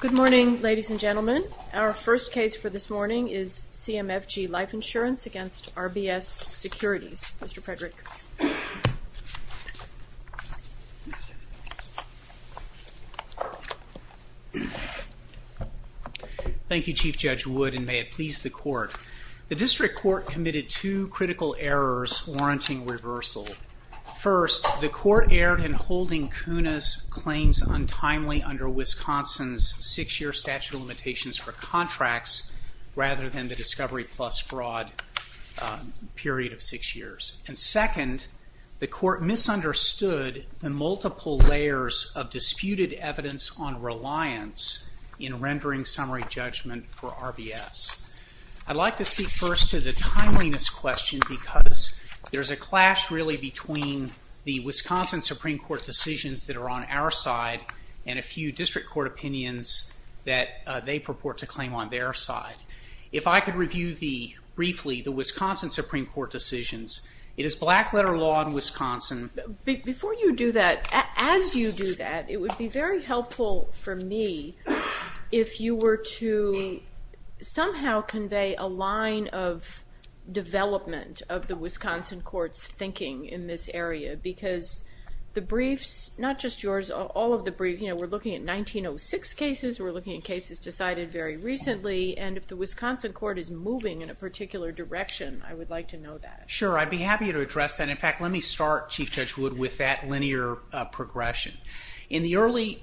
Good morning, ladies and gentlemen. Our first case for this morning is CMFG Life Insurance against RBS Securities. Mr. Frederick. Thank you, Chief Judge Wood, and may it please the court. The district court committed two critical errors warranting reversal. First, the court erred in holding Kunis claims untimely under Wisconsin's six-year statute of limitations for contracts, rather than the discovery plus fraud period of six years. And second, the court misunderstood the multiple layers of disputed evidence on reliance in rendering summary judgment for RBS. I'd like to speak first to the timeliness question, because there's a clash really between the Wisconsin Supreme Court decisions that are on our side and a few district court opinions that they purport to claim on their side. If I could review briefly the Wisconsin Supreme Court decisions, it is black letter law in Wisconsin. Before you do that, as you do that, it would be very helpful for me if you were to somehow convey a line of development of the Wisconsin court's thinking in this area, because the briefs, not just yours, all of the briefs, you know, we're looking at 1906 cases, we're looking at cases decided very recently, and if the Wisconsin court is moving in a particular direction, I would like to know that. Sure, I'd be happy to address that. In fact, let me start, Chief Judge Wood, with that linear progression. In the early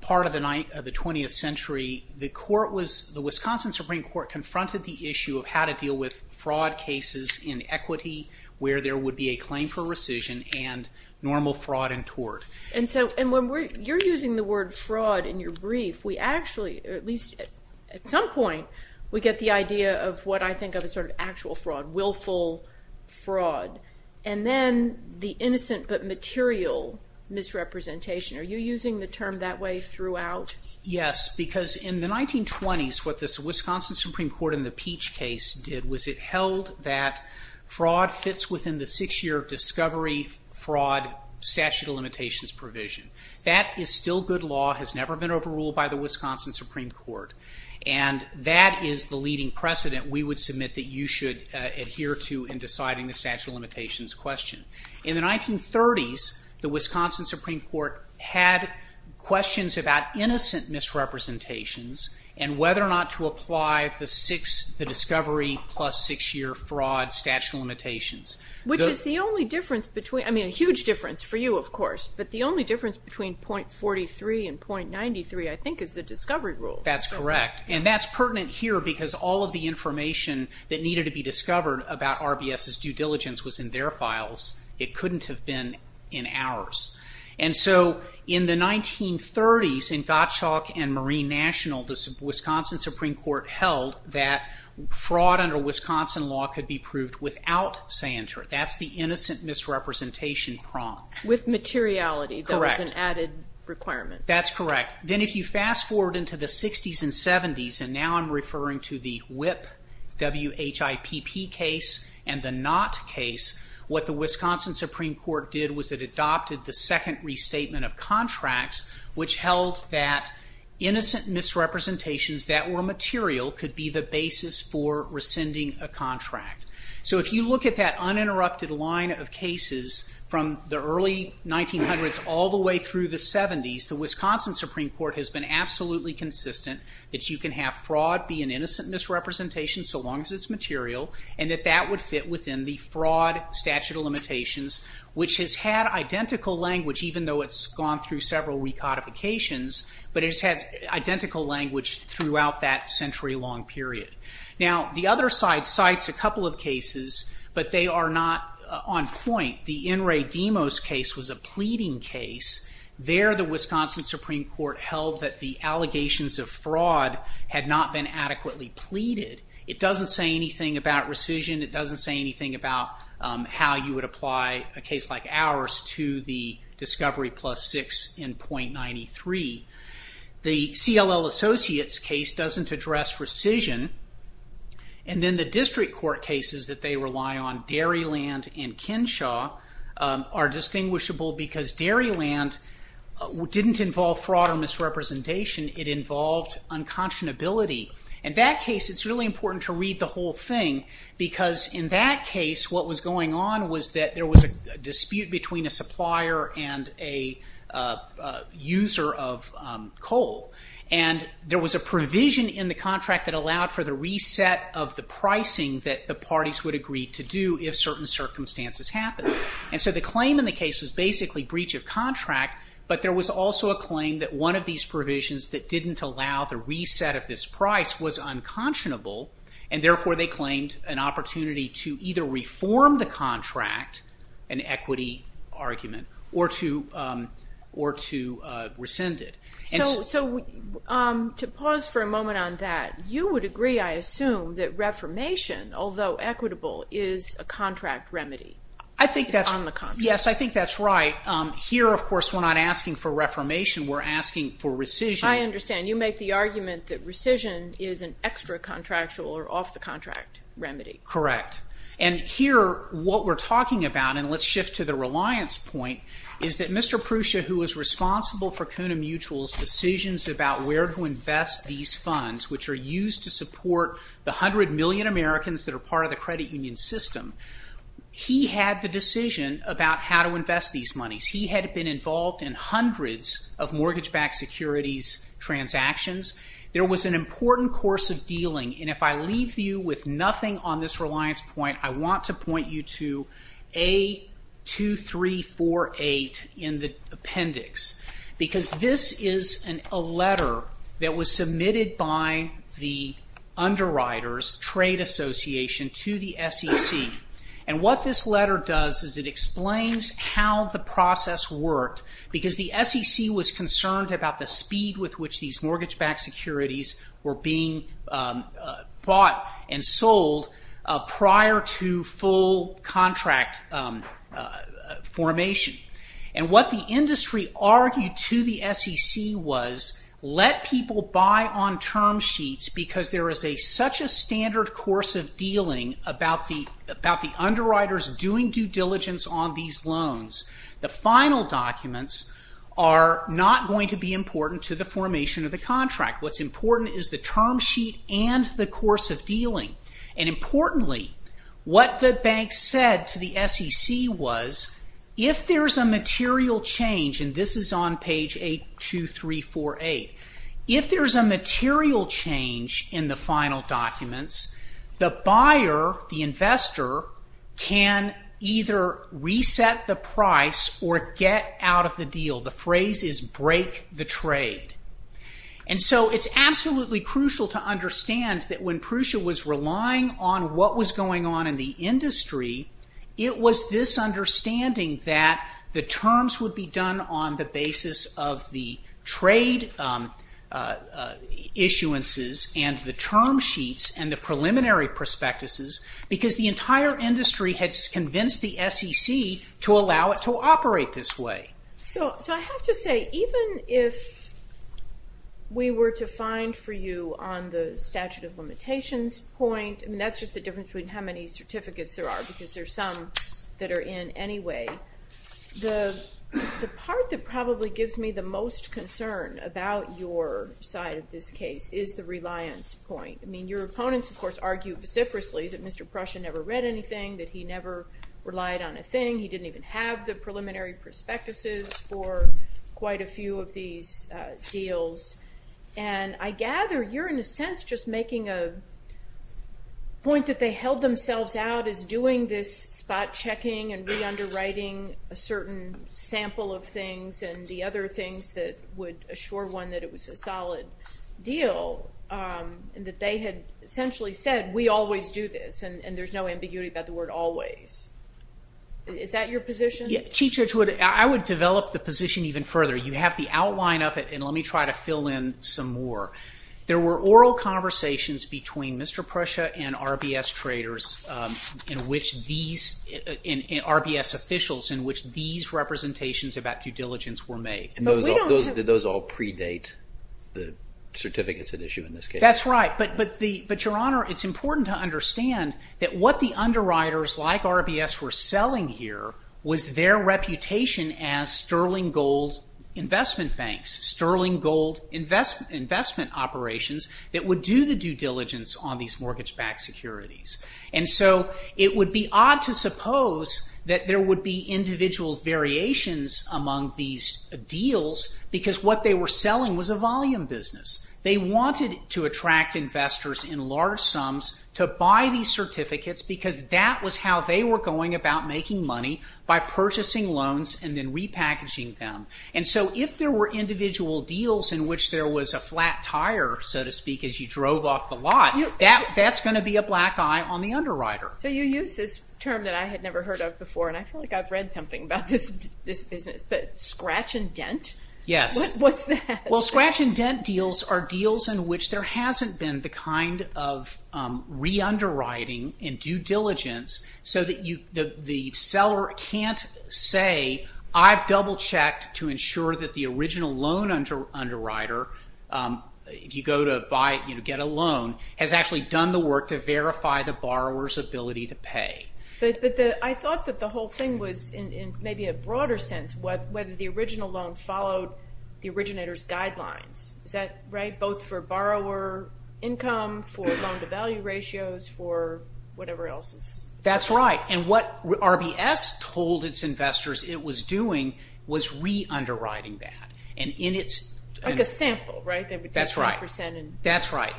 part of the 20th century, the Wisconsin Supreme Court confronted the issue of how to deal with fraud cases in equity, where there would be a claim for rescission, and normal fraud in tort. And when you're using the word fraud in your brief, we actually, at least at some point, we get the idea of what I think of as sort of actual fraud, willful fraud. And then the Yes, because in the 1920s, what this Wisconsin Supreme Court in the Peach case did was it held that fraud fits within the six-year discovery fraud statute of limitations provision. That is still good law, has never been overruled by the Wisconsin Supreme Court, and that is the leading precedent we would submit that you should adhere to in deciding the statute of limitations question. In the 1930s, the Wisconsin Supreme Court had questions about innocent misrepresentations and whether or not to apply the discovery plus six-year fraud statute of limitations. Which is the only difference between, I mean a huge difference for you, of course, but the only difference between .43 and .93, I think, is the discovery rule. That's correct. And that's pertinent here because all of the information that needed to be discovered about RBS's due diligence was in their files. It couldn't have been in ours. And so in the 1930s, in Gottschalk and Marine National, the Wisconsin Supreme Court held that fraud under Wisconsin law could be proved without Sancher. That's the innocent misrepresentation prong. With materiality, that was an added requirement. Correct. That's correct. Then if you fast forward into the 60s and 70s, and now I'm referring to the WHIP, W-H-I-P-P case, and the Knott case, what the Wisconsin Supreme Court did was it adopted the second restatement of contracts, which held that innocent misrepresentations that were material could be the basis for rescinding a contract. So if you look at that uninterrupted line of cases from the early 1900s all the way through the 70s, the Wisconsin Supreme Court has been absolutely consistent that you can have fraud be an innocent misrepresentation so long as it's material, and that that would fit within the fraud statute of limitations, which has had identical language, even though it's gone through several recodifications, but it has had identical language throughout that century-long period. Now the other side cites a couple of cases, but they are not on point. The In re Demos case was a pleading case. There the Wisconsin Supreme Court held that the allegations of fraud had not been adequately pleaded. It doesn't say anything about rescission. It doesn't say anything about how you would apply a case like ours to the discovery plus six in point ninety-three. The CLL Associates case doesn't address rescission, and then the district court cases that they rely on, Dairyland and Kinshaw, are distinguishable because Dairyland didn't involve fraud or misrepresentation. It involved unconscionability, and that case it's really important to read the whole thing because in that case what was going on was that there was a dispute between a supplier and a user of coal, and there was a provision in the contract that allowed for the reset of the pricing that the parties would agree to do if certain circumstances happened, and so the claim in the case was basically breach of contract, but there was also a claim that one of these provisions that didn't allow the reset of this price was unconscionable, and therefore they claimed an opportunity to either reform the contract, an equity argument, or to rescind it. So to pause for a moment on that, you would agree, I assume, that reformation, although equitable, is a contract remedy? I think that's right. Here, of course, we're not asking for reformation. We're asking for rescission. I understand. You make the argument that rescission is an extra contractual or off-the-contract remedy. Correct. And here, what we're talking about, and let's shift to the reliance point, is that Mr. Prusa, who was responsible for CUNA Mutual's decisions about where to invest these funds, which are used to support the 100 million Americans that are part of the credit union system, he had the decision about how to invest these monies. He had been involved in hundreds of mortgage-backed securities transactions. There was an important course of dealing, and if I leave you with nothing on this reliance point, I want to point you to A2348 in the appendix, because this is a letter that was submitted by the underwriters, Trade Association, to the SEC. What this letter does is it explains how the process worked, because the SEC was concerned about the speed with which these mortgage-backed securities were being bought and sold prior to full contract formation. What the industry argued to the SEC was, let people buy on term about the underwriters doing due diligence on these loans. The final documents are not going to be important to the formation of the contract. What's important is the term sheet and the course of dealing. And importantly, what the bank said to the SEC was, if there is a material change, and this is on page A2348, if there is a material change in the structure, can either reset the price or get out of the deal. The phrase is break the trade. And so it's absolutely crucial to understand that when Prusa was relying on what was going on in the industry, it was this understanding that the terms would be done on the basis of the trade issuances and the term sheets and the preliminary prospectuses, because the entire industry had convinced the SEC to allow it to operate this way. So I have to say, even if we were to find for you on the statute of limitations point, and that's just the difference between how many certificates there are, because there are some that are in anyway, the part that probably gives me the most concern about your side of this case is the reliance point. I mean, your opponents, of course, argue vociferously that Mr. Prusa never read anything, that he never relied on a thing, he didn't even have the preliminary prospectuses for quite a few of these deals. And I gather you're in a sense just making a point that they held themselves out as doing this spot checking and re-underwriting a certain sample of things and the other things that would assure one that it was a solid deal and that they had essentially said, we always do this, and there's no ambiguity about the word always. Is that your position? Chief Judge, I would develop the position even further. You have the outline of it, and let me try to fill in some more. There were oral conversations between Mr. Prusa and RBS traders in which these, and RBS officials in which these representations about due diligence were made. And did those all predate the certificates at issue in this case? That's right. But Your Honor, it's important to understand that what the underwriters like RBS were selling here was their reputation as sterling gold investment banks, sterling gold investment operations that would do the due diligence on these mortgage-backed securities. And so it would be odd to suppose that there would be individual variations among these deals because what they were selling was a volume business. They wanted to attract investors in large sums to buy these certificates because that was how they were going about making money by purchasing loans and then repackaging them. And so if there were individual deals in which there was a flat tire, so to speak, as you drove off the lot, that's going to be a black eye on the underwriter. So you use this term that I had never heard of before, and I feel like I've read something about this business, but scratch and dent? Yes. What's that? Well, scratch and dent deals are deals in which there hasn't been the kind of re-underwriting in due diligence so that the seller can't say, I've double-checked to ensure that the original loan underwriter, if you go to get a loan, has actually done the work to verify the borrower's ability to pay. I thought that the whole thing was, in maybe a broader sense, whether the original loan followed the originator's guidelines. Is that right? Both for borrower income, for loan-to-value ratios, for whatever else? That's right. And what RBS told its investors it was doing was re-underwriting that. Like a sample, right? That's right.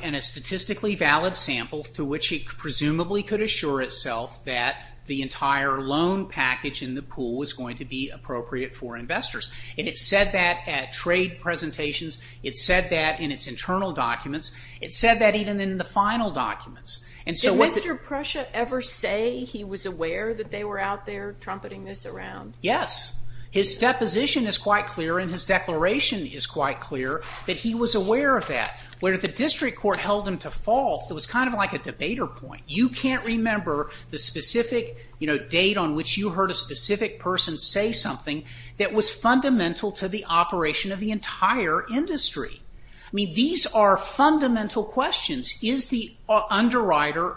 And a statistically valid sample through which it presumably could assure itself that the entire loan package in the pool was going to be appropriate for investors. And it said that at trade presentations. It said that in its internal documents. It said that even in the final documents. Did Mr. Prussia ever say he was aware that they were out there trumpeting this around? Yes. His deposition is quite clear and his declaration is quite clear that he was aware of that. Where if the district court held him to fault, it was kind of like a debater point. You can't remember the specific date on which you heard a specific person say something that was fundamental to the operation of the entire industry. I mean, these are fundamental questions. Is the underwriter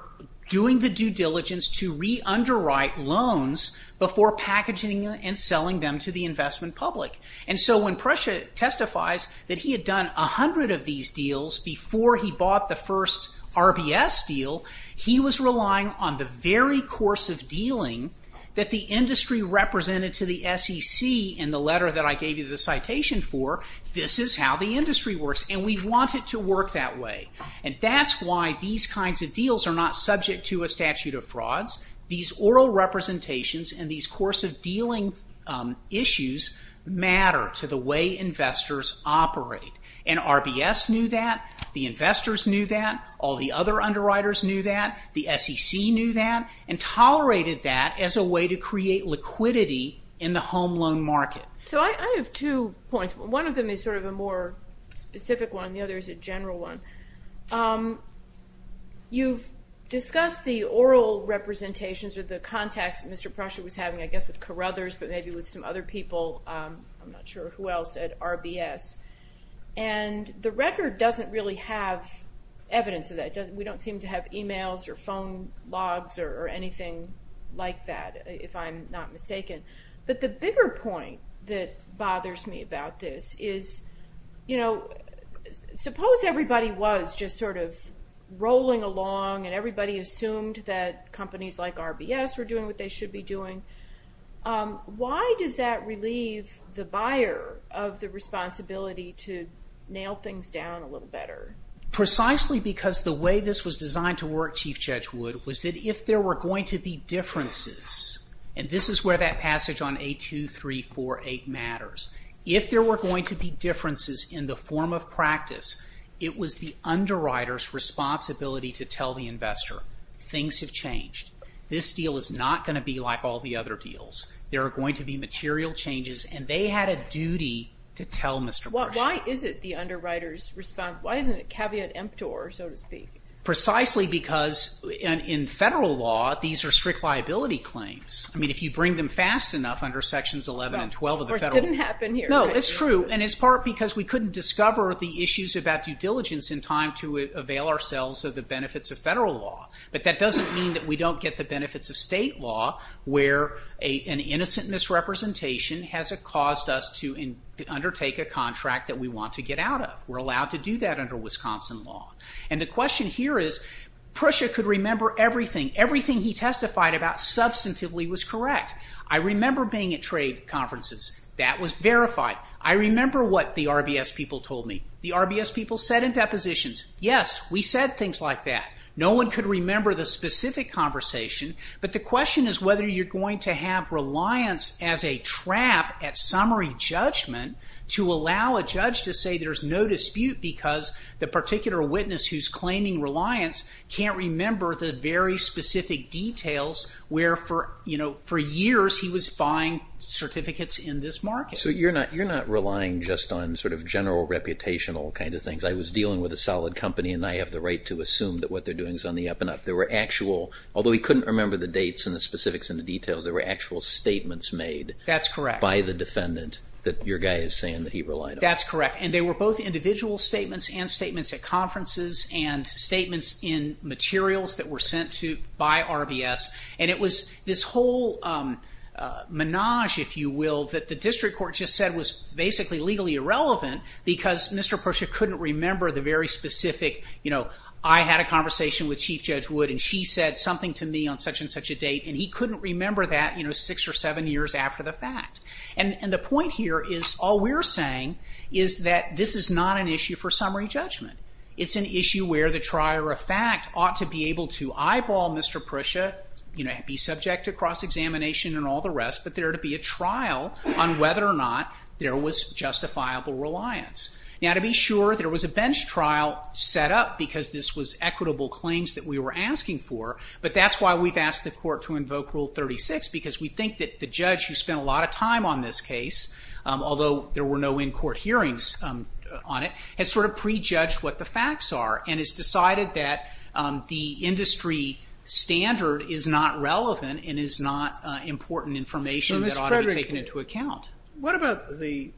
doing the due diligence to re-underwrite loans before packaging and selling them to the investment public? And so when Prussia testifies that he had done a hundred of these deals before he bought the first RBS deal, he was relying on the very course of dealing that the industry represented to the SEC in the letter that I gave you the citation for. This is how the industry works and we want it to work that way. And that's why these kinds of deals are not subject to a statute of frauds. These oral representations and these course of dealing issues matter to the way investors operate. And RBS knew that. The investors knew that. All the other underwriters knew that. The SEC knew that and tolerated that as a way to create liquidity in the home loan market. So I have two points. One of them is sort of a more specific one. The other is a general one. You've discussed the oral representations or the contacts that Mr. Prussia was having, I guess with Carruthers, but maybe with some other people. I'm not sure who else at RBS. And the record doesn't really have evidence of that. We don't seem to have emails or phone logs or anything like that, if I'm not mistaken. But the bigger point that bothers me about this is, you know, suppose everybody was just sort of rolling along and everybody assumed that companies like RBS were doing what they should be doing. Why does that relieve the buyer of the responsibility to nail things down a little better? Precisely because the way this was designed to work, Chief Judge Wood, was that if there were going to be differences, and this is where that passage on A2348 matters, if there were going to be differences in the form of practice, it was the underwriter's responsibility to tell the investor, things have changed. This deal is not going to be like all the other deals. There are going to be material changes, and they had a duty to tell Mr. Prussia. Why is it the underwriter's responsibility? Why isn't it caveat emptor, so to speak? Precisely because in federal law, these are strict liability claims. I mean, if you bring them fast enough under Sections 11 and 12 of the federal law. Well, it didn't happen here. No, it's true, and it's part because we couldn't discover the issues about due diligence in time to avail ourselves of the benefits of federal law. But that doesn't mean that we don't get the benefits of state law, where an innocent misrepresentation has caused us to undertake a contract that we want to get out of. We're allowed to do that under Wisconsin law. And the question here is, Prussia could remember everything. Everything he testified about substantively was correct. I remember being at trade conferences. That was verified. I remember what the RBS people told me. The RBS people said in depositions, yes, we said things like that. No one could remember the specific conversation. But the question is whether you're going to have reliance as a trap at summary judgment to allow a judge to say there's no dispute because the particular witness who's claiming reliance can't remember the very specific details where for years he was buying certificates in this market. So you're not relying just on sort of general reputational kind of things. I was dealing with a solid company, and I have the right to assume that what they're doing is on the up and up. There were actual, although he couldn't remember the dates and the specifics and the details, there were actual statements made by the defendant that your guy is saying that he relied on. That's correct. And they were both individual statements and statements at conferences and statements in materials that were sent to by RBS. And it was this whole menage, if you will, that the district court just said was basically legally irrelevant because Mr. Prussia couldn't remember the very specific, you know, I had a conversation with Chief Judge Wood, and she said something to me on such and such a date, and he couldn't remember that six or seven years after the fact. And the point here is all we're saying is that this is not an issue for summary judgment. It's an issue where the trier of fact ought to be able to eyeball Mr. Prussia, be subject to cross-examination and all the rest, but there to be a trial on whether or not there was justifiable reliance. Now, to be sure, there was a bench trial set up because this was equitable claims that we were asking for, but that's why we've asked the court to invoke Rule 36, because we think that the judge who spent a lot of time on this case, although there were no in-court hearings on it, has sort of prejudged what the facts are and has decided that the industry standard is not relevant and is not important information that ought to be taken into account. What about the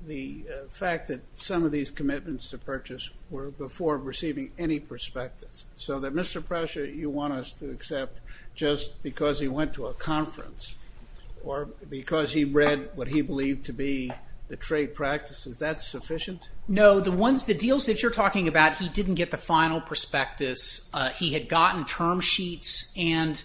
fact that some of these commitments to purchase were before receiving any prospectus? So that Mr. Prussia, you want us to accept just because he went to a conference or because he read what he believed to be the trade practice, is that sufficient? No, the deals that you're talking about, he didn't get the final prospectus. He had gotten term sheets and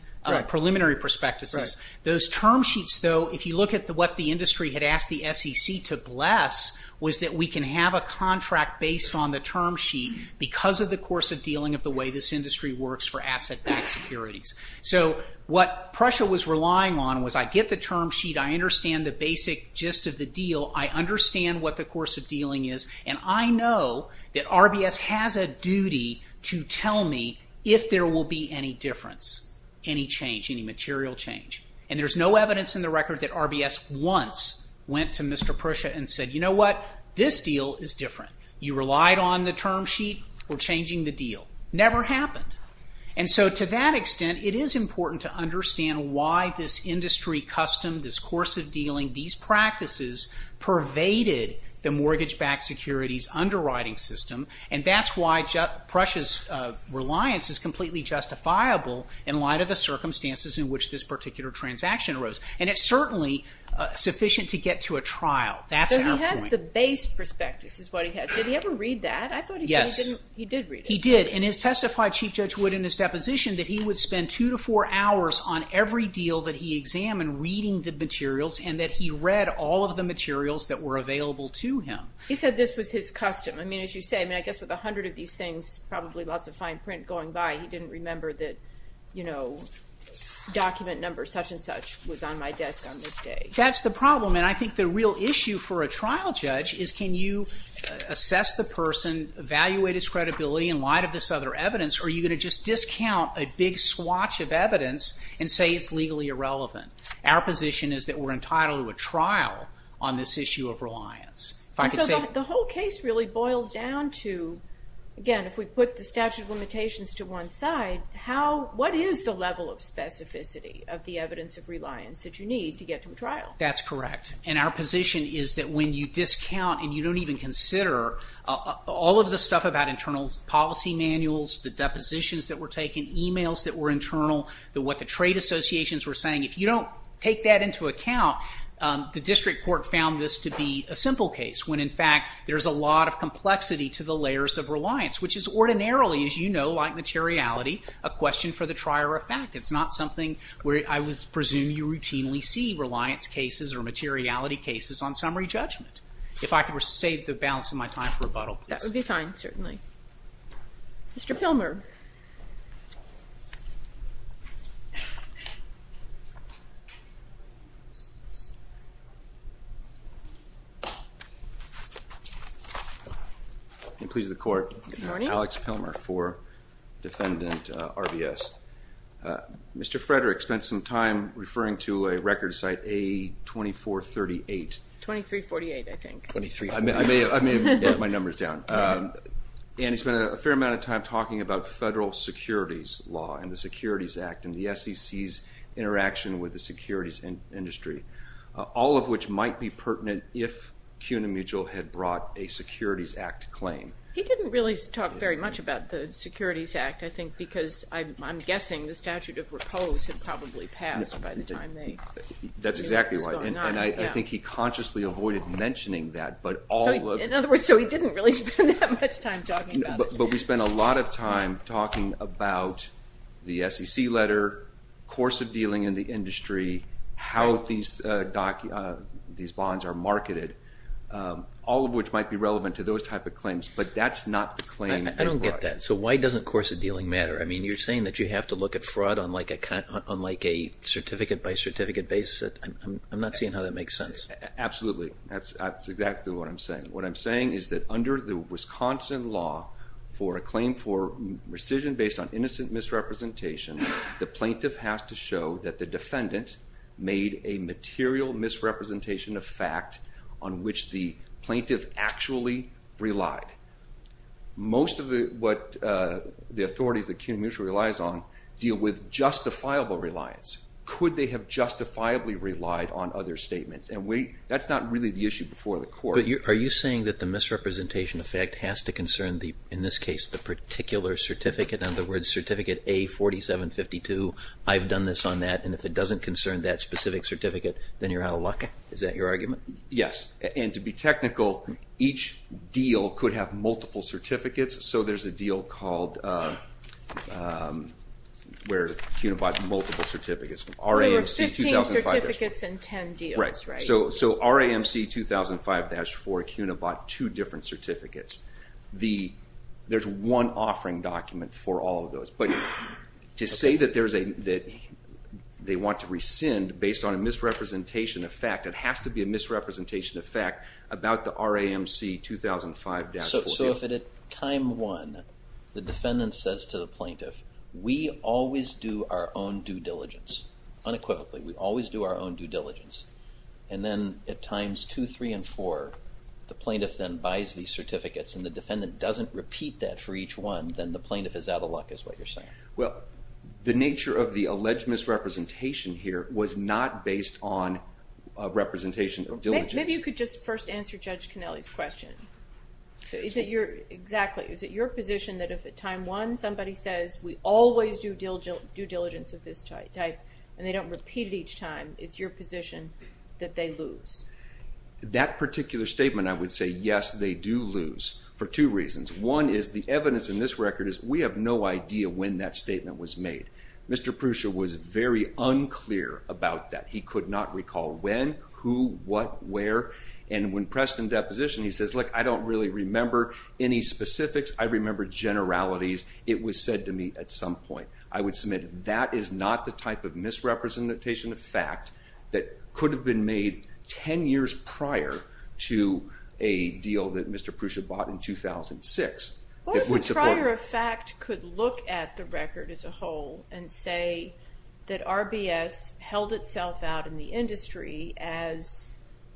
preliminary prospectuses. Those term sheets, though, if you look at what the industry had asked the SEC to bless, was that we can have a contract based on the term sheet because of the course of dealing of the way this industry works for asset-backed securities. So what Prussia was relying on was I get the term sheet, I understand the basic gist of the deal, I understand what the course of dealing is, and I know that RBS has a duty to tell me if there will be any difference, any change, any material change. And there's no evidence in the record that RBS once went to Mr. Prussia and said, you know what, this deal is different. You relied on the term sheet, we're changing the deal. Never happened. And so to that extent, it is important to understand why this industry custom, this course of dealing, these practices pervaded the mortgage-backed securities underwriting system, and that's why Prussia's reliance is completely justifiable in light of the circumstances in which this particular transaction arose. And it's certainly sufficient to get to a trial. That's our point. So he has the base prospectus is what he has. Did he ever read that? Yes. I thought he said he did read it. He did, and it's testified, Chief Judge Wood, in his deposition, that he would spend two to four hours on every deal that he examined reading the materials and that he read all of the materials that were available to him. He said this was his custom. I mean, as you say, I mean, I guess with a hundred of these things, probably lots of fine print going by, he didn't remember that, you know, document number such and such was on my desk on this day. That's the problem, and I think the real issue for a trial judge is can you assess the person, evaluate his credibility in light of this other evidence, or are you going to just discount a big swatch of evidence and say it's legally irrelevant? Our position is that we're entitled to a trial on this issue of reliance. So the whole case really boils down to, again, if we put the statute of limitations to one side, what is the level of specificity of the evidence of reliance that you need to get to a trial? That's correct, and our position is that when you discount and you don't even consider all of the stuff about internal policy manuals, the depositions that were taken, emails that were internal, what the trade associations were saying, if you don't take that into account, the district court found this to be a simple case when in fact there's a lot of complexity to the layers of reliance, which is ordinarily, as you know, like materiality, a question for the trier of fact. It's not something where I would presume you routinely see reliance cases or materiality cases on summary judgment. If I could save the balance of my time for rebuttal, please. That would be fine, certainly. Mr. Pilmer. It pleases the Court. Good morning. Alex Pilmer for Defendant RBS. Mr. Frederick spent some time referring to a record site, A2438. 2348, I think. 2348. I may have wrote my numbers down. And he spent a fair amount of time talking about federal securities law and the Securities Act and the SEC's interaction with the securities industry, all of which might be pertinent if CUNA Mutual had brought a Securities Act claim. He didn't really talk very much about the Securities Act, I think, because I'm guessing the statute of repose had probably passed by the time they knew what was going on. And I think he consciously avoided mentioning that. In other words, so he didn't really spend that much time talking about it. But we spent a lot of time talking about the SEC letter, course of dealing in the industry, how these bonds are marketed, all of which might be relevant to those type of claims. But that's not the claim they brought. I don't get that. So why doesn't course of dealing matter? I mean, you're saying that you have to look at fraud on like a certificate by certificate basis. I'm not seeing how that makes sense. Absolutely. That's exactly what I'm saying. What I'm saying is that under the Wisconsin law for a claim for rescission based on innocent misrepresentation, the plaintiff has to show that the defendant made a material misrepresentation of fact on which the plaintiff actually relied. Most of what the authorities that CUNA Mutual relies on deal with justifiable reliance. Could they have justifiably relied on other statements? And that's not really the issue before the court. But are you saying that the misrepresentation of fact has to concern, in this case, the particular certificate? In other words, Certificate A-4752, I've done this on that, and if it doesn't concern that specific certificate, then you're out of luck? Is that your argument? Yes. And to be technical, each deal could have multiple certificates. So there's a deal called where CUNA bought multiple certificates. There were 15 certificates and 10 deals, right? Right. So RAMC 2005-4, CUNA bought two different certificates. There's one offering document for all of those. But to say that they want to rescind based on a misrepresentation of fact, it has to be a misrepresentation of fact about the RAMC 2005-4 deal. So if at time 1, the defendant says to the plaintiff, we always do our own due diligence, unequivocally, we always do our own due diligence, and then at times 2, 3, and 4, the plaintiff then buys these certificates and the defendant doesn't repeat that for each one, then the plaintiff is out of luck is what you're saying? Well, the nature of the alleged misrepresentation here was not based on representation of diligence. Maybe you could just first answer Judge Connelly's question. Exactly. Is it your position that if at time 1, somebody says we always do due diligence of this type and they don't repeat it each time, it's your position that they lose? That particular statement, I would say yes, they do lose for two reasons. One is the evidence in this record is we have no idea when that statement was made. Mr. Pruscia was very unclear about that. He could not recall when, who, what, where, and when pressed in deposition, he says, look, I don't really remember any specifics. I remember generalities. It was said to me at some point. I would submit that is not the type of misrepresentation of fact that could have been made 10 years prior to a deal that Mr. Pruscia bought in 2006. Or the prior effect could look at the record as a whole and say that RBS held itself out in the industry as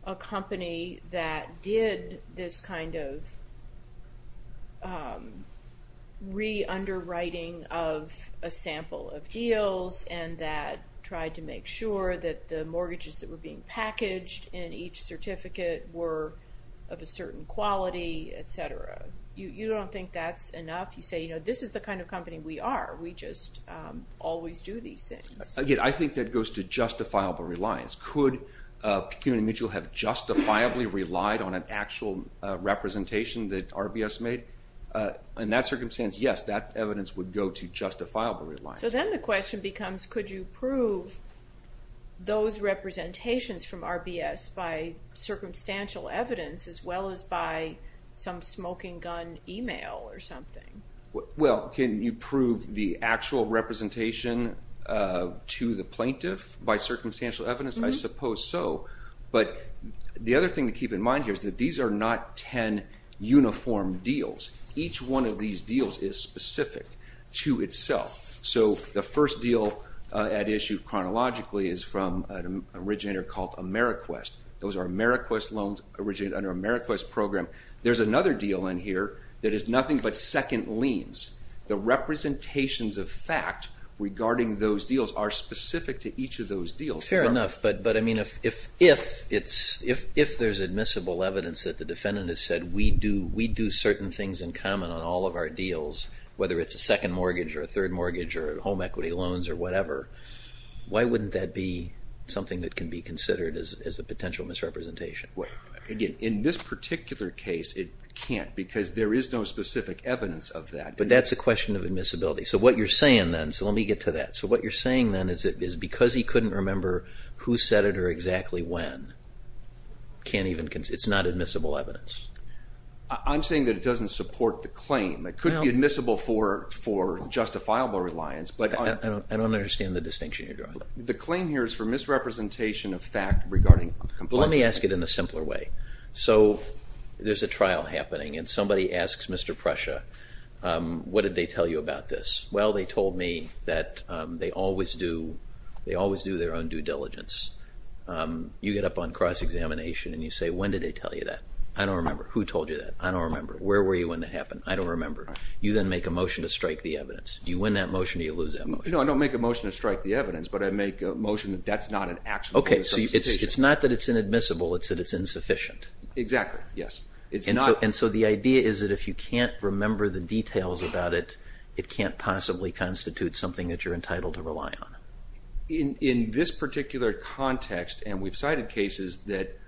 a company that did this kind of re-underwriting of a sample of deals and that tried to make sure that the mortgages that were being packaged in each certificate were of a certain quality, etc. You don't think that's enough? You say, you know, this is the kind of company we are. We just always do these things. Again, I think that goes to justifiable reliance. Could Pecuni and Mitchell have justifiably relied on an actual representation that RBS made? In that circumstance, yes, that evidence would go to justifiable reliance. So then the question becomes could you prove those representations from RBS by circumstantial evidence as well as by some smoking gun email or something? Well, can you prove the actual representation to the plaintiff by circumstantial evidence? I suppose so, but the other thing to keep in mind here is that these are not ten uniform deals. Each one of these deals is specific to itself. So the first deal at issue chronologically is from an originator called AmeriQuest. Those are AmeriQuest loans originated under AmeriQuest program. There's another deal in here that is nothing but second liens. The representations of fact regarding those deals are specific to each of those deals. Fair enough, but I mean if there's admissible evidence that the defendant has said we do certain things in common on all of our deals, whether it's a second mortgage or a third mortgage or home equity loans or whatever, why wouldn't that be something that can be considered as a potential misrepresentation? Again, in this particular case it can't because there is no specific evidence of that. But that's a question of admissibility. So what you're saying then, so let me get to that. So what you're saying then is because he couldn't remember who said it or exactly when, it's not admissible evidence. I'm saying that it doesn't support the claim. It could be admissible for justifiable reliance. I don't understand the distinction you're drawing. The claim here is for misrepresentation of fact regarding compulsion. Let me ask it in a simpler way. So there's a trial happening and somebody asks Mr. Prussia, what did they tell you about this? Well, they told me that they always do their own due diligence. You get up on cross-examination and you say, when did they tell you that? I don't remember. Who told you that? I don't remember. Where were you when that happened? I don't remember. You then make a motion to strike the evidence. Do you win that motion or do you lose that motion? No, I don't make a motion to strike the evidence, but I make a motion that that's not an actionable misrepresentation. Okay, so it's not that it's inadmissible, it's that it's insufficient. Exactly, yes. And so the idea is that if you can't remember the details about it, it can't possibly constitute something that you're entitled to rely on. In this particular context, and we've cited cases that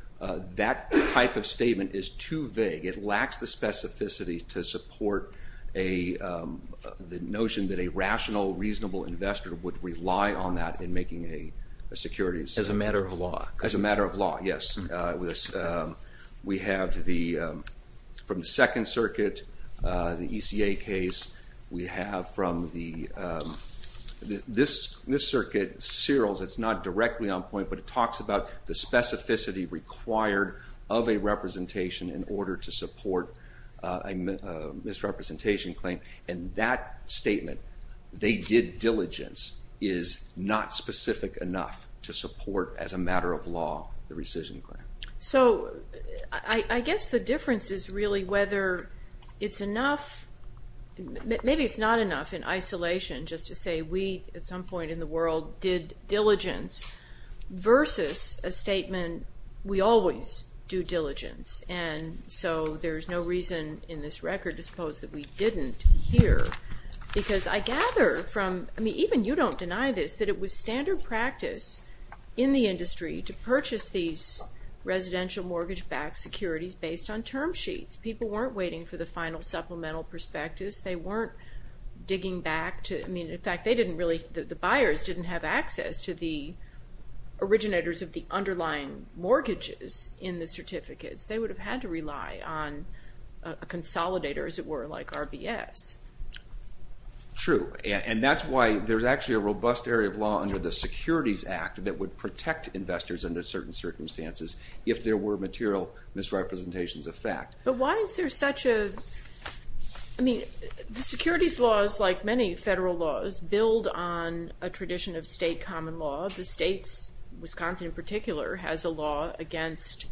that type of statement is too vague. It lacks the specificity to support the notion that a rational, reasonable investor would rely on that in making a securities. As a matter of law. As a matter of law, yes. We have the, from the Second Circuit, the ECA case, we have from the, this circuit, Searles, it's not directly on point, but it talks about the specificity required of a representation in order to support a misrepresentation claim, and that statement, they did diligence, is not specific enough to support, as a matter of law, the rescission claim. So I guess the difference is really whether it's enough, maybe it's not enough in isolation, just to say we, at some point in the world, did diligence versus a statement, we always do diligence, and so there's no reason in this record to suppose that we didn't here, because I gather from, I mean, even you don't deny this, that it was standard practice in the industry to purchase these residential mortgage-backed securities based on term sheets. People weren't waiting for the final supplemental prospectus. They weren't digging back to, I mean, in fact, they didn't really, the buyers didn't have access to the originators of the underlying mortgages in the certificates. They would have had to rely on a consolidator, as it were, like RBS. True, and that's why there's actually a robust area of law under the Securities Act that would protect investors under certain circumstances if there were material misrepresentations of fact. But why is there such a, I mean, the securities laws, like many federal laws, build on a tradition of state common law. The states, Wisconsin in particular, has a law against,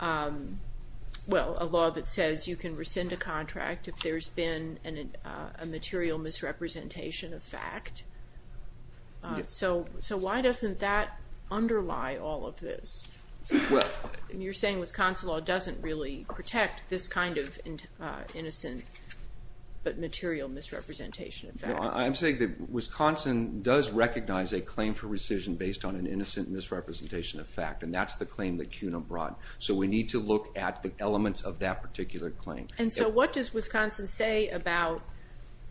well, a law that says you can rescind a contract if there's been a material misrepresentation of fact. So why doesn't that underlie all of this? You're saying Wisconsin law doesn't really protect this kind of innocent but material misrepresentation of fact. Well, I'm saying that Wisconsin does recognize a claim for rescission based on an innocent misrepresentation of fact, and that's the claim that CUNA brought. So we need to look at the elements of that particular claim. And so what does Wisconsin say about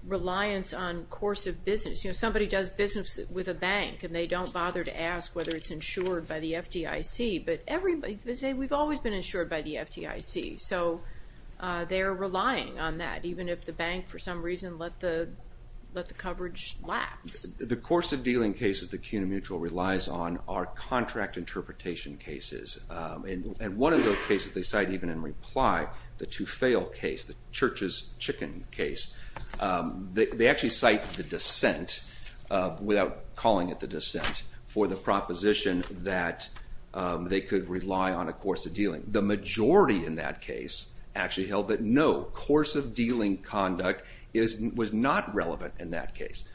reliance on course of business? You know, somebody does business with a bank, and they don't bother to ask whether it's insured by the FDIC, but everybody, they say, we've always been insured by the FDIC. So they're relying on that, even if the bank, for some reason, let the coverage lapse. The course of dealing cases that CUNA Mutual relies on are contract interpretation cases. And one of those cases they cite even in reply, the Tufale case, the church's chicken case. They actually cite the dissent without calling it the dissent for the proposition that they could rely on a course of dealing. The majority in that case actually held that no, course of dealing conduct was not relevant in that case.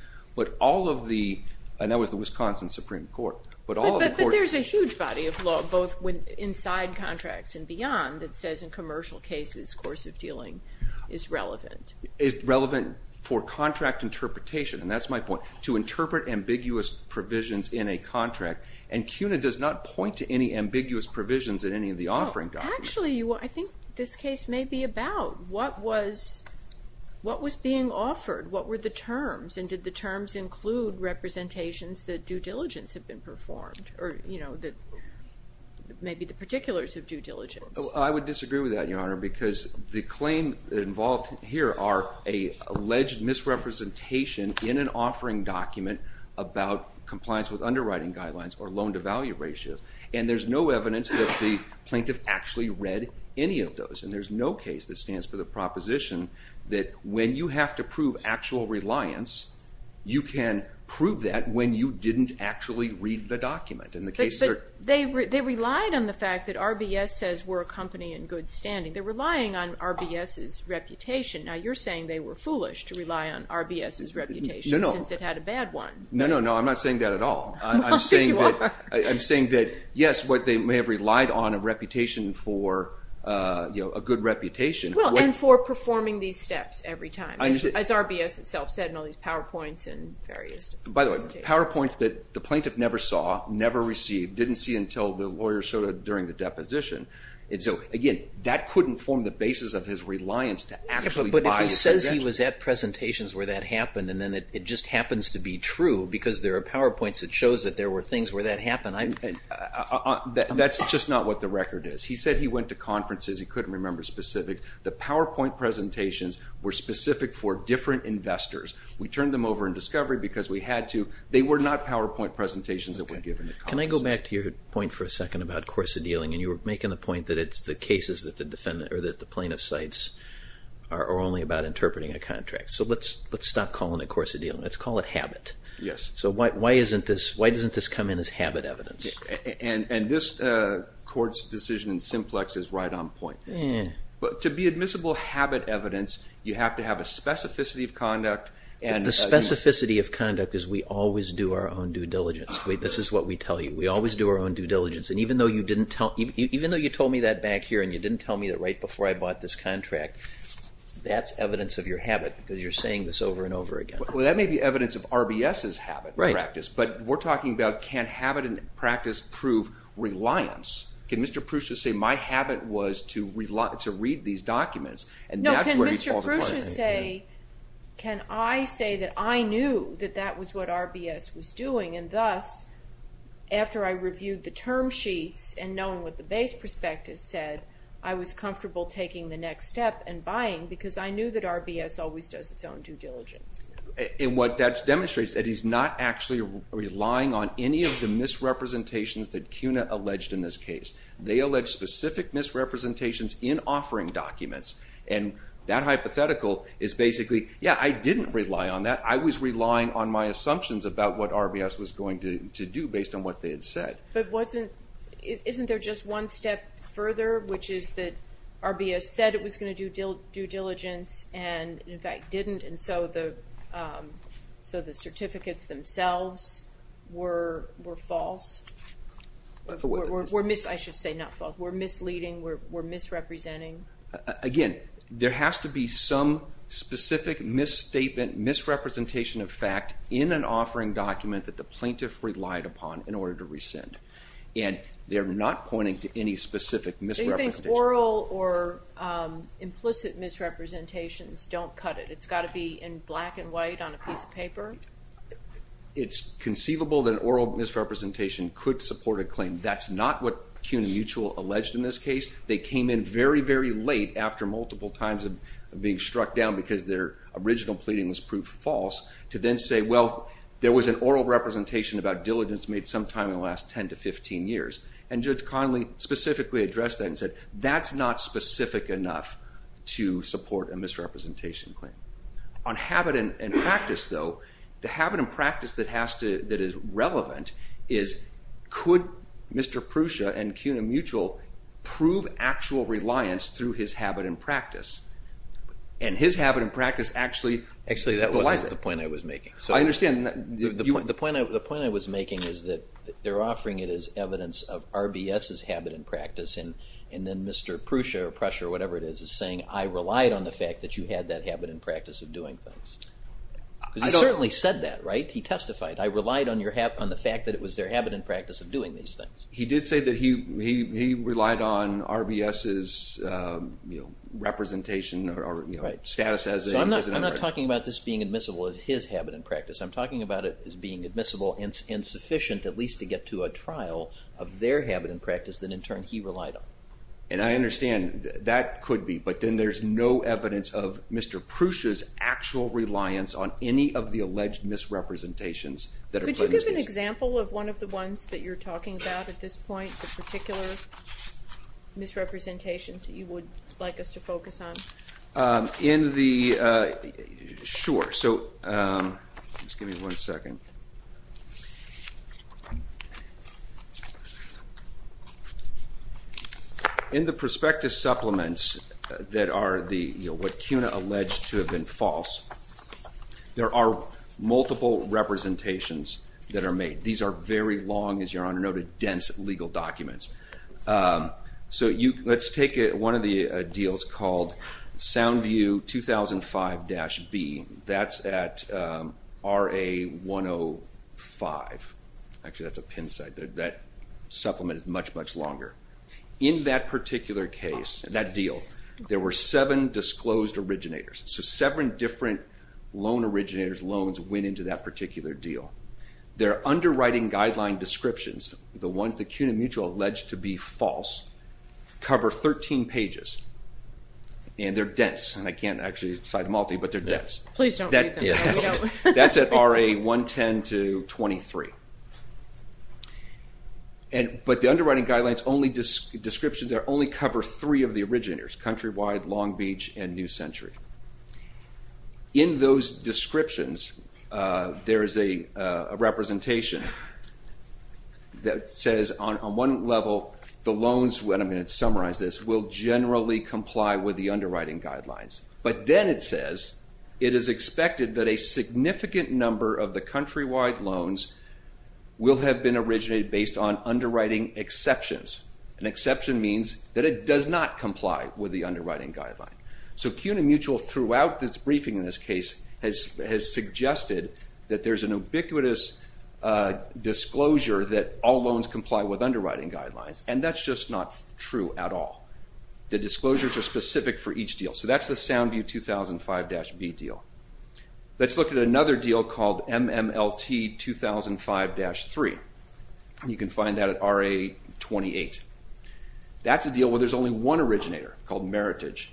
And that was the Wisconsin Supreme Court. But there's a huge body of law, both inside contracts and beyond, that says in commercial cases course of dealing is relevant. It's relevant for contract interpretation, and that's my point, to interpret ambiguous provisions in a contract. And CUNA does not point to any ambiguous provisions in any of the offering documents. Actually, I think this case may be about what was being offered, what were the terms, and did the terms include representations that due diligence had been performed, or maybe the particulars of due diligence? I would disagree with that, Your Honor, because the claims involved here are an alleged misrepresentation in an offering document about compliance with underwriting guidelines or loan-to-value ratios. And there's no evidence that the plaintiff actually read any of those, and there's no case that stands for the proposition that when you have to prove actual reliance, you can prove that when you didn't actually read the document. But they relied on the fact that RBS says we're a company in good standing. They're relying on RBS's reputation. Now, you're saying they were foolish to rely on RBS's reputation since it had a bad one. No, no, no, I'm not saying that at all. I'm saying that, yes, they may have relied on a reputation for a good reputation. Well, and for performing these steps every time, as RBS itself said in all these PowerPoints and various presentations. By the way, PowerPoints that the plaintiff never saw, never received, didn't see until the lawyer showed it during the deposition. So, again, that couldn't form the basis of his reliance to actually buy the suggestion. But if he says he was at presentations where that happened and then it just happens to be true because there are PowerPoints that show that there were things where that happened. That's just not what the record is. He said he went to conferences. He couldn't remember specifics. The PowerPoint presentations were specific for different investors. We turned them over in discovery because we had to. They were not PowerPoint presentations that were given at conferences. Can I go back to your point for a second about course of dealing? And you were making the point that it's the cases that the plaintiff cites are only about interpreting a contract. So let's stop calling it course of dealing. Let's call it habit. Yes. So why doesn't this come in as habit evidence? And this court's decision in simplex is right on point. To be admissible habit evidence, you have to have a specificity of conduct. The specificity of conduct is we always do our own due diligence. This is what we tell you. We always do our own due diligence. And even though you told me that back here and you didn't tell me that right before I bought this contract, that's evidence of your habit because you're saying this over and over again. Well, that may be evidence of RBS's habit practice. But we're talking about can habit practice prove reliance? Can Mr. Prusci say my habit was to read these documents? No. Can Mr. Prusci say can I say that I knew that that was what RBS was doing and thus after I reviewed the term sheets and knowing what the base prospectus said, I was comfortable taking the next step and buying because I knew that RBS always does its own due diligence. And what that demonstrates is that he's not actually relying on any of the misrepresentations that CUNA alleged in this case. They allege specific misrepresentations in offering documents. And that hypothetical is basically, yeah, I didn't rely on that. I was relying on my assumptions about what RBS was going to do based on what they had said. But wasn't, isn't there just one step further, which is that RBS said it was going to do due diligence and in fact didn't and so the certificates themselves were false? I should say not false. Were misleading? Were misrepresenting? Again, there has to be some specific misstatement, misrepresentation of fact in an offering document that the plaintiff relied upon in order to rescind. And they're not pointing to any specific misrepresentation. So you think oral or implicit misrepresentations don't cut it? It's got to be in black and white on a piece of paper? It's conceivable that oral misrepresentation could support a claim. That's not what CUNA Mutual alleged in this case. They came in very, very late after multiple times of being struck down because their original pleading was proved false to then say, well, there was an oral representation about diligence made sometime in the last 10 to 15 years. And Judge Conley specifically addressed that and said that's not specific enough to support a misrepresentation claim. On habit and practice, though, the habit and practice that is relevant is, could Mr. Prusa and CUNA Mutual prove actual reliance through his habit and practice? And his habit and practice actually relies on it. Actually, that wasn't the point I was making. I understand. The point I was making is that they're offering it as evidence of RBS's And then Mr. Prusa or Prussia or whatever it is is saying, I relied on the fact that you had that habit and practice of doing things. Because he certainly said that, right? He testified. I relied on the fact that it was their habit and practice of doing these things. He did say that he relied on RBS's representation or status as a resident. I'm not talking about this being admissible as his habit and practice. I'm talking about it as being admissible and sufficient at least to get to a And I understand. That could be. But then there's no evidence of Mr. Prusa's actual reliance on any of the alleged misrepresentations. Could you give an example of one of the ones that you're talking about at this point, the particular misrepresentations that you would like us to focus on? In the, sure. So just give me one second. In the prospectus supplements that are what CUNA alleged to have been false, there are multiple representations that are made. These are very long, as your Honor noted, dense legal documents. So let's take one of the deals called Soundview 2005-B. That's at RA 105. Actually, that's a Penn site. That supplement is much, much longer. In that particular case, that deal, there were seven disclosed originators. So seven different loan originators' loans went into that particular deal. Their underwriting guideline descriptions, the ones that CUNA Mutual alleged to be false, cover 13 pages. And they're dense. And I can't actually cite them all to you, but they're dense. Please don't read them. That's at RA 110-23. But the underwriting guidelines descriptions only cover three of the originators, Countrywide, Long Beach, and New Century. In those descriptions, there is a representation that says on one level, the loans, and I'm going to summarize this, will generally comply with the underwriting guidelines. But then it says it is expected that a significant number of the countrywide loans will have been originated based on underwriting exceptions. An exception means that it does not comply with the underwriting guideline. So CUNA Mutual, throughout its briefing in this case, has suggested that there's an ubiquitous disclosure that all loans comply with underwriting guidelines. And that's just not true at all. The disclosures are specific for each deal. So that's the SoundView 2005-B deal. Let's look at another deal called MMLT 2005-3. You can find that at RA 28. That's a deal where there's only one originator called Meritage.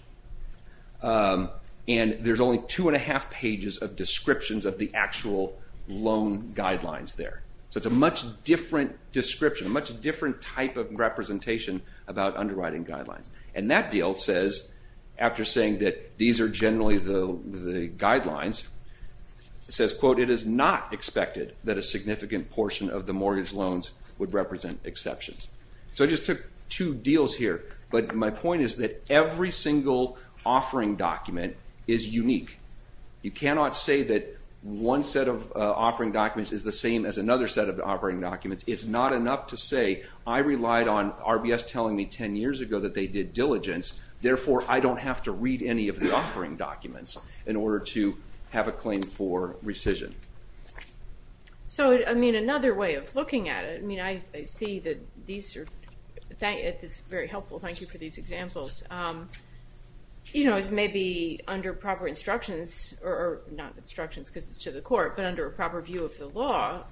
And there's only two and a half pages of descriptions of the actual loan guidelines there. So it's a much different description, a much different type of representation about underwriting guidelines. And that deal says, after saying that these are generally the guidelines, it says, quote, it is not expected that a significant portion of the mortgage loans would represent exceptions. So I just took two deals here. But my point is that every single offering document is unique. You cannot say that one set of offering documents is the same as another set of offering documents. It's not enough to say I relied on RBS telling me 10 years ago that they did diligence, therefore I don't have to read any of the offering documents in order to have a claim for rescission. So, I mean, another way of looking at it, I mean, I see that these are very helpful. Thank you for these examples. You know, as maybe under proper instructions, or not instructions because it's to the court, but under a proper view of the law,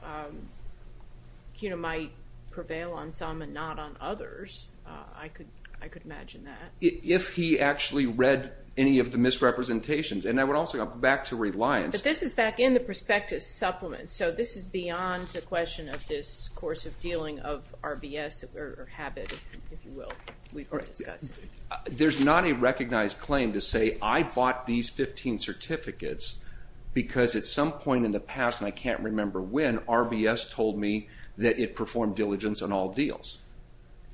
CUNA might prevail on some and not on others. I could imagine that. If he actually read any of the misrepresentations. And I would also go back to reliance. But this is back in the prospectus supplement. So this is beyond the question of this course of dealing of RBS or habit, if you will, There's not a recognized claim to say I bought these 15 certificates because at some point in the past, and I can't remember when, RBS told me that it performed diligence on all deals.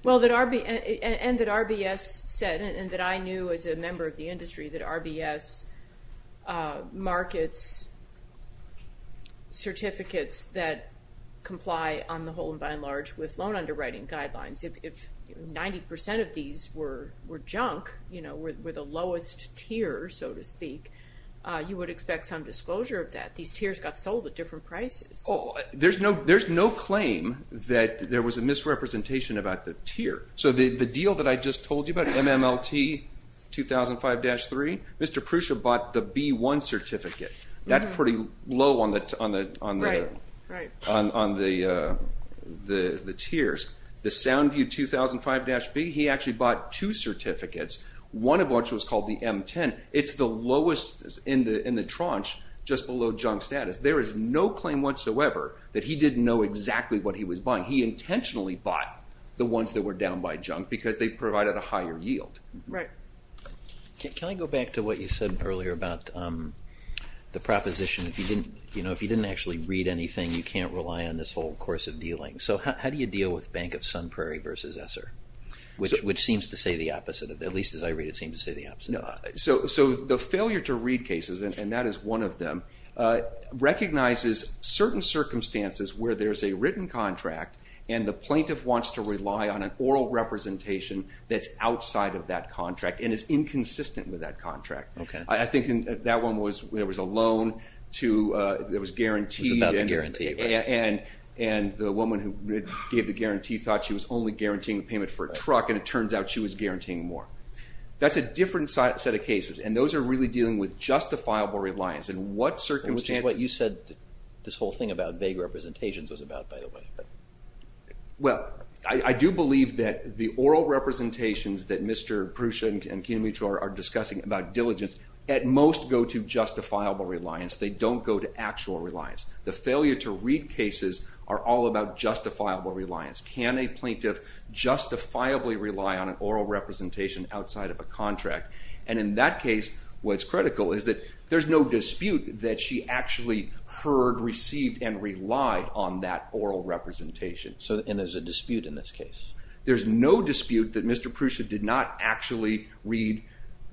Well, and that RBS said, and that I knew as a member of the industry, that RBS markets certificates that comply on the whole and by and large with loan underwriting guidelines. If 90% of these were junk, you know, were the lowest tier, so to speak, you would expect some disclosure of that. These tiers got sold at different prices. There's no claim that there was a misrepresentation about the tier. So the deal that I just told you about, MMLT 2005-3, Mr. Prusa bought the B1 certificate. That's pretty low on the tiers. The Soundview 2005-B, he actually bought two certificates, one of which was called the M10. It's the lowest in the tranche, just below junk status. There is no claim whatsoever that he didn't know exactly what he was buying. He intentionally bought the ones that were down by junk because they provided a higher yield. Right. Can I go back to what you said earlier about the proposition? If you didn't actually read anything, you can't rely on this whole course of dealing. So how do you deal with Bank of Sun Prairie versus Essar, which seems to say the opposite, at least as I read it seems to say the opposite. So the failure to read cases, and that is one of them, recognizes certain circumstances where there's a written contract and the plaintiff wants to rely on an oral representation that's outside of that contract and is inconsistent with that contract. I think that one was there was a loan to, it was guaranteed. It was about the guarantee, right. And the woman who gave the guarantee thought she was only guaranteeing the payment for a truck and it turns out she was guaranteeing more. That's a different set of cases, and those are really dealing with justifiable reliance in what circumstances. Which is what you said this whole thing about vague representations was about, by the way. Well, I do believe that the oral representations that Mr. Prusha and Kinamitra are discussing about diligence at most go to justifiable reliance. They don't go to actual reliance. The failure to read cases are all about justifiable reliance. Can a plaintiff justifiably rely on an oral representation outside of a contract? And in that case, what's critical is that there's no dispute that she actually heard, received, and relied on that oral representation. And there's a dispute in this case? There's no dispute that Mr. Prusha did not actually read,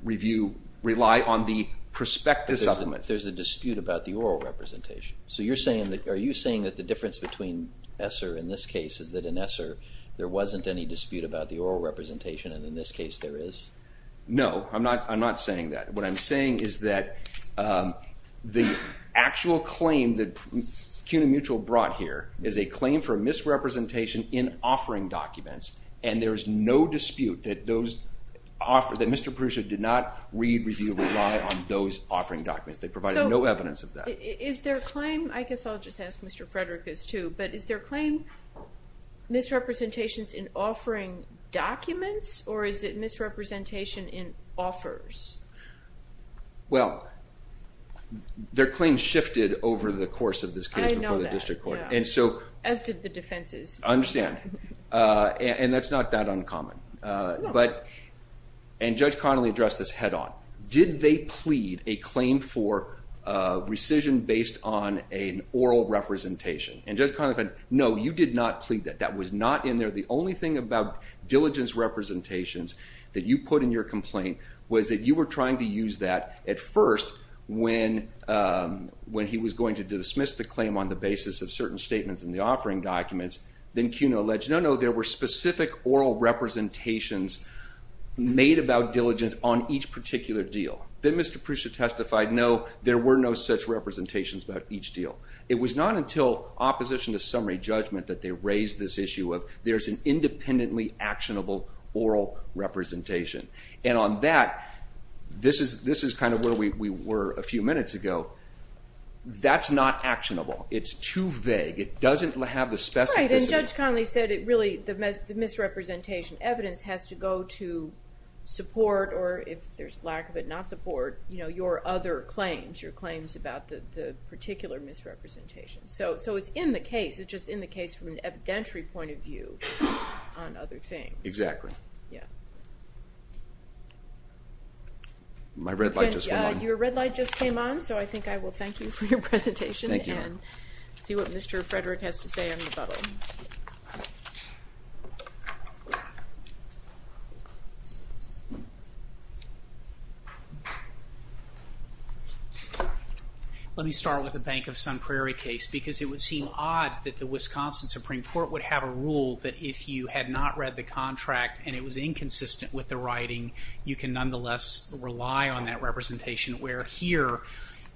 review, rely on the prospective supplement. There's a dispute about the oral representation. So you're saying, are you saying that the difference between ESSER in this case is that in ESSER there wasn't any dispute about the oral representation and in this case there is? No, I'm not saying that. What I'm saying is that the actual claim that Kinamitra brought here is a claim for misrepresentation in offering documents and there is no dispute that Mr. Prusha did not read, review, rely on those offering documents. They provided no evidence of that. Is their claim, I guess I'll just ask Mr. Frederick this too, but is their claim misrepresentations in offering documents or is it misrepresentation in offers? Well, their claim shifted over the course of this case before the district court. I know that, as did the defenses. I understand, and that's not that uncommon. And Judge Connolly addressed this head-on. Did they plead a claim for rescission based on an oral representation? And Judge Connolly said, no, you did not plead that. That was not in there. The only thing about diligence representations that you put in your complaint was that you were trying to use that at first when he was going to dismiss the claim on the basis of certain statements in the offering documents. Then Kuna alleged, no, no, there were specific oral representations made about diligence on each particular deal. Then Mr. Prusia testified, no, there were no such representations about each deal. It was not until opposition to summary judgment that they raised this issue of there's an independently actionable oral representation. And on that, this is kind of where we were a few minutes ago. That's not actionable. It's too vague. It doesn't have the specificity. Judge Connolly said really the misrepresentation evidence has to go to support or if there's lack of it, not support, your other claims, your claims about the particular misrepresentation. So it's in the case. It's just in the case from an evidentiary point of view on other things. Exactly. Yeah. My red light just went on. Let's see what Mr. Frederick has to say on the bubble. Let me start with the Bank of Sun Prairie case because it would seem odd that the Wisconsin Supreme Court would have a rule that if you had not read the contract and it was inconsistent with the writing, you can nonetheless rely on that representation. We're here.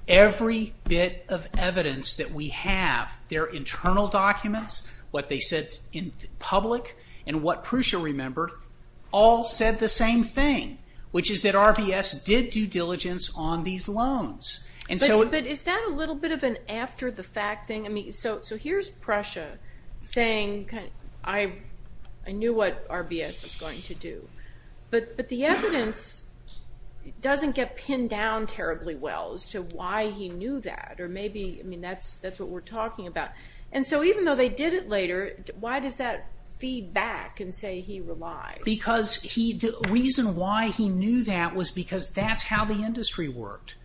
Every bit of evidence that we have, their internal documents, what they said in public, and what Prusha remembered, all said the same thing, which is that RBS did due diligence on these loans. But is that a little bit of an after-the-fact thing? So here's Prusha saying, I knew what RBS was going to do. But the evidence doesn't get pinned down terribly well as to why he knew that, or maybe that's what we're talking about. And so even though they did it later, why does that feed back and say he relied? Because the reason why he knew that was because that's how the industry worked.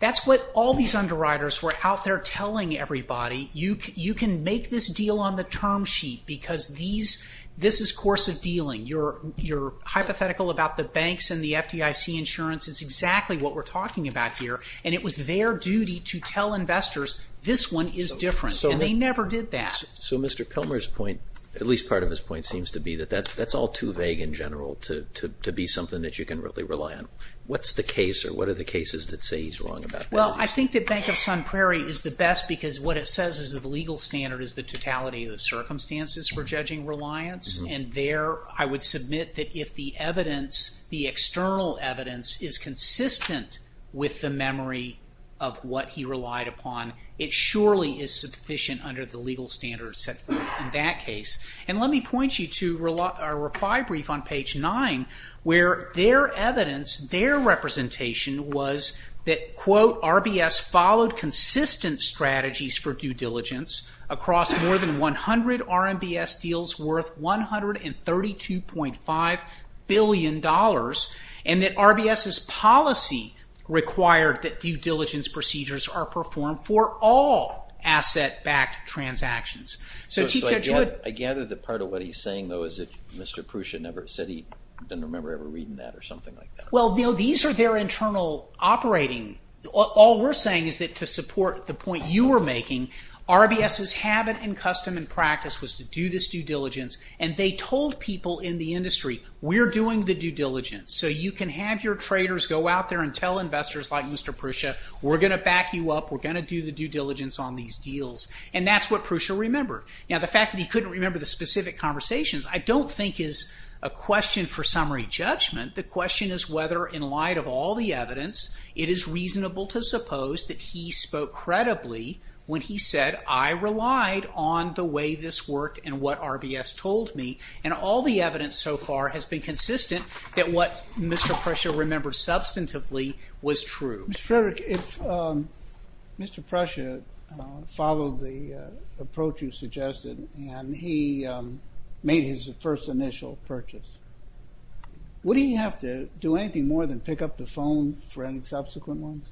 That's what all these underwriters were out there telling everybody. You can make this deal on the term sheet because this is course of dealing. Your hypothetical about the banks and the FDIC insurance is exactly what we're talking about here, and it was their duty to tell investors this one is different, and they never did that. So Mr. Pilmer's point, at least part of his point, seems to be that that's all too vague in general to be something that you can really rely on. What's the case, or what are the cases that say he's wrong about that? Well, I think that Bank of Sun Prairie is the best because what it says is that the legal standard is the totality of the circumstances for judging reliance, and there I would submit that if the evidence, the external evidence, is consistent with the memory of what he relied upon, it surely is sufficient under the legal standards in that case. And let me point you to a reply brief on page 9 where their evidence, their representation, was that, quote, RBS followed consistent strategies for due diligence across more than 100 RMBS deals worth $132.5 billion and that RBS's policy required that due diligence procedures are performed for all asset-backed transactions. So I gather that part of what he's saying, though, is that Mr. Prusha said he didn't remember ever reading that or something like that. Well, these are their internal operating... All we're saying is that to support the point you were making, RBS's habit and custom and practice was to do this due diligence, and they told people in the industry, we're doing the due diligence, so you can have your traders go out there and tell investors like Mr. Prusha, we're going to back you up, we're going to do the due diligence on these deals. And that's what Prusha remembered. Now, the fact that he couldn't remember the specific conversations I don't think is a question for summary judgment. The question is whether, in light of all the evidence, it is reasonable to suppose that he spoke credibly when he said, I relied on the way this worked and what RBS told me. And all the evidence so far has been consistent that what Mr. Prusha remembered substantively was true. Mr. Frederick, if Mr. Prusha followed the approach you suggested and he made his first initial purchase, would he have to do anything more than pick up the phone for any subsequent ones?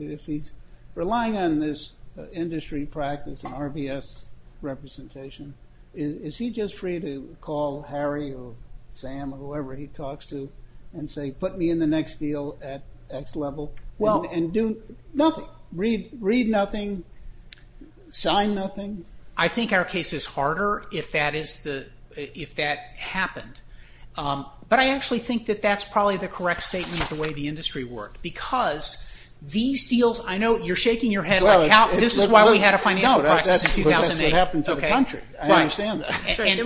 If he's relying on this industry practice and RBS representation, is he just free to call Harry or Sam or whoever he talks to and say put me in the next deal at X level and do nothing? Read nothing? Sign nothing? I think our case is harder if that happened. But I actually think that that's probably the correct statement of the way the industry worked because these deals, I know you're shaking your head like, this is why we had a financial crisis in 2008. But that's what happened to the country. I understand that. And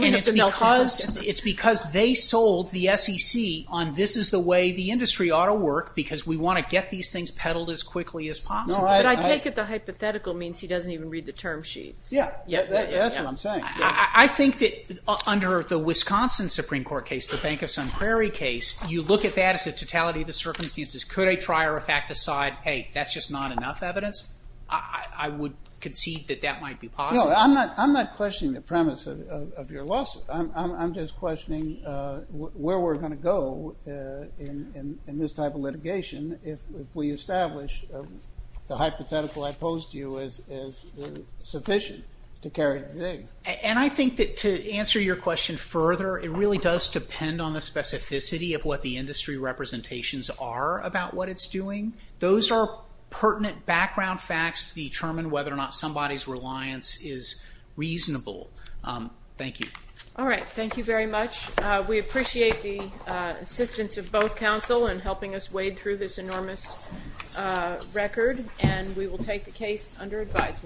it's because they sold the SEC on this is the way the industry ought to work because we want to get these things peddled as quickly as possible. But I take it the hypothetical means he doesn't even read the term sheets. That's what I'm saying. I think that under the Wisconsin Supreme Court case, the Bank of Sun Prairie case, you look at that as a totality of the circumstances. Could a trier of fact decide, hey, that's just not enough evidence? I would concede that that might be possible. No, I'm not questioning the premise of your lawsuit. I'm just questioning where we're going to go in this type of litigation if we establish the hypothetical I posed to you is sufficient to carry it today. And I think that to answer your question further, it really does depend on the specificity of what the industry representations are about what it's doing. Those are pertinent background facts to determine whether or not somebody's reliance is reasonable. Thank you. All right. Thank you very much. We appreciate the assistance of both counsel in helping us wade through this enormous record. And we will take the case under advisement.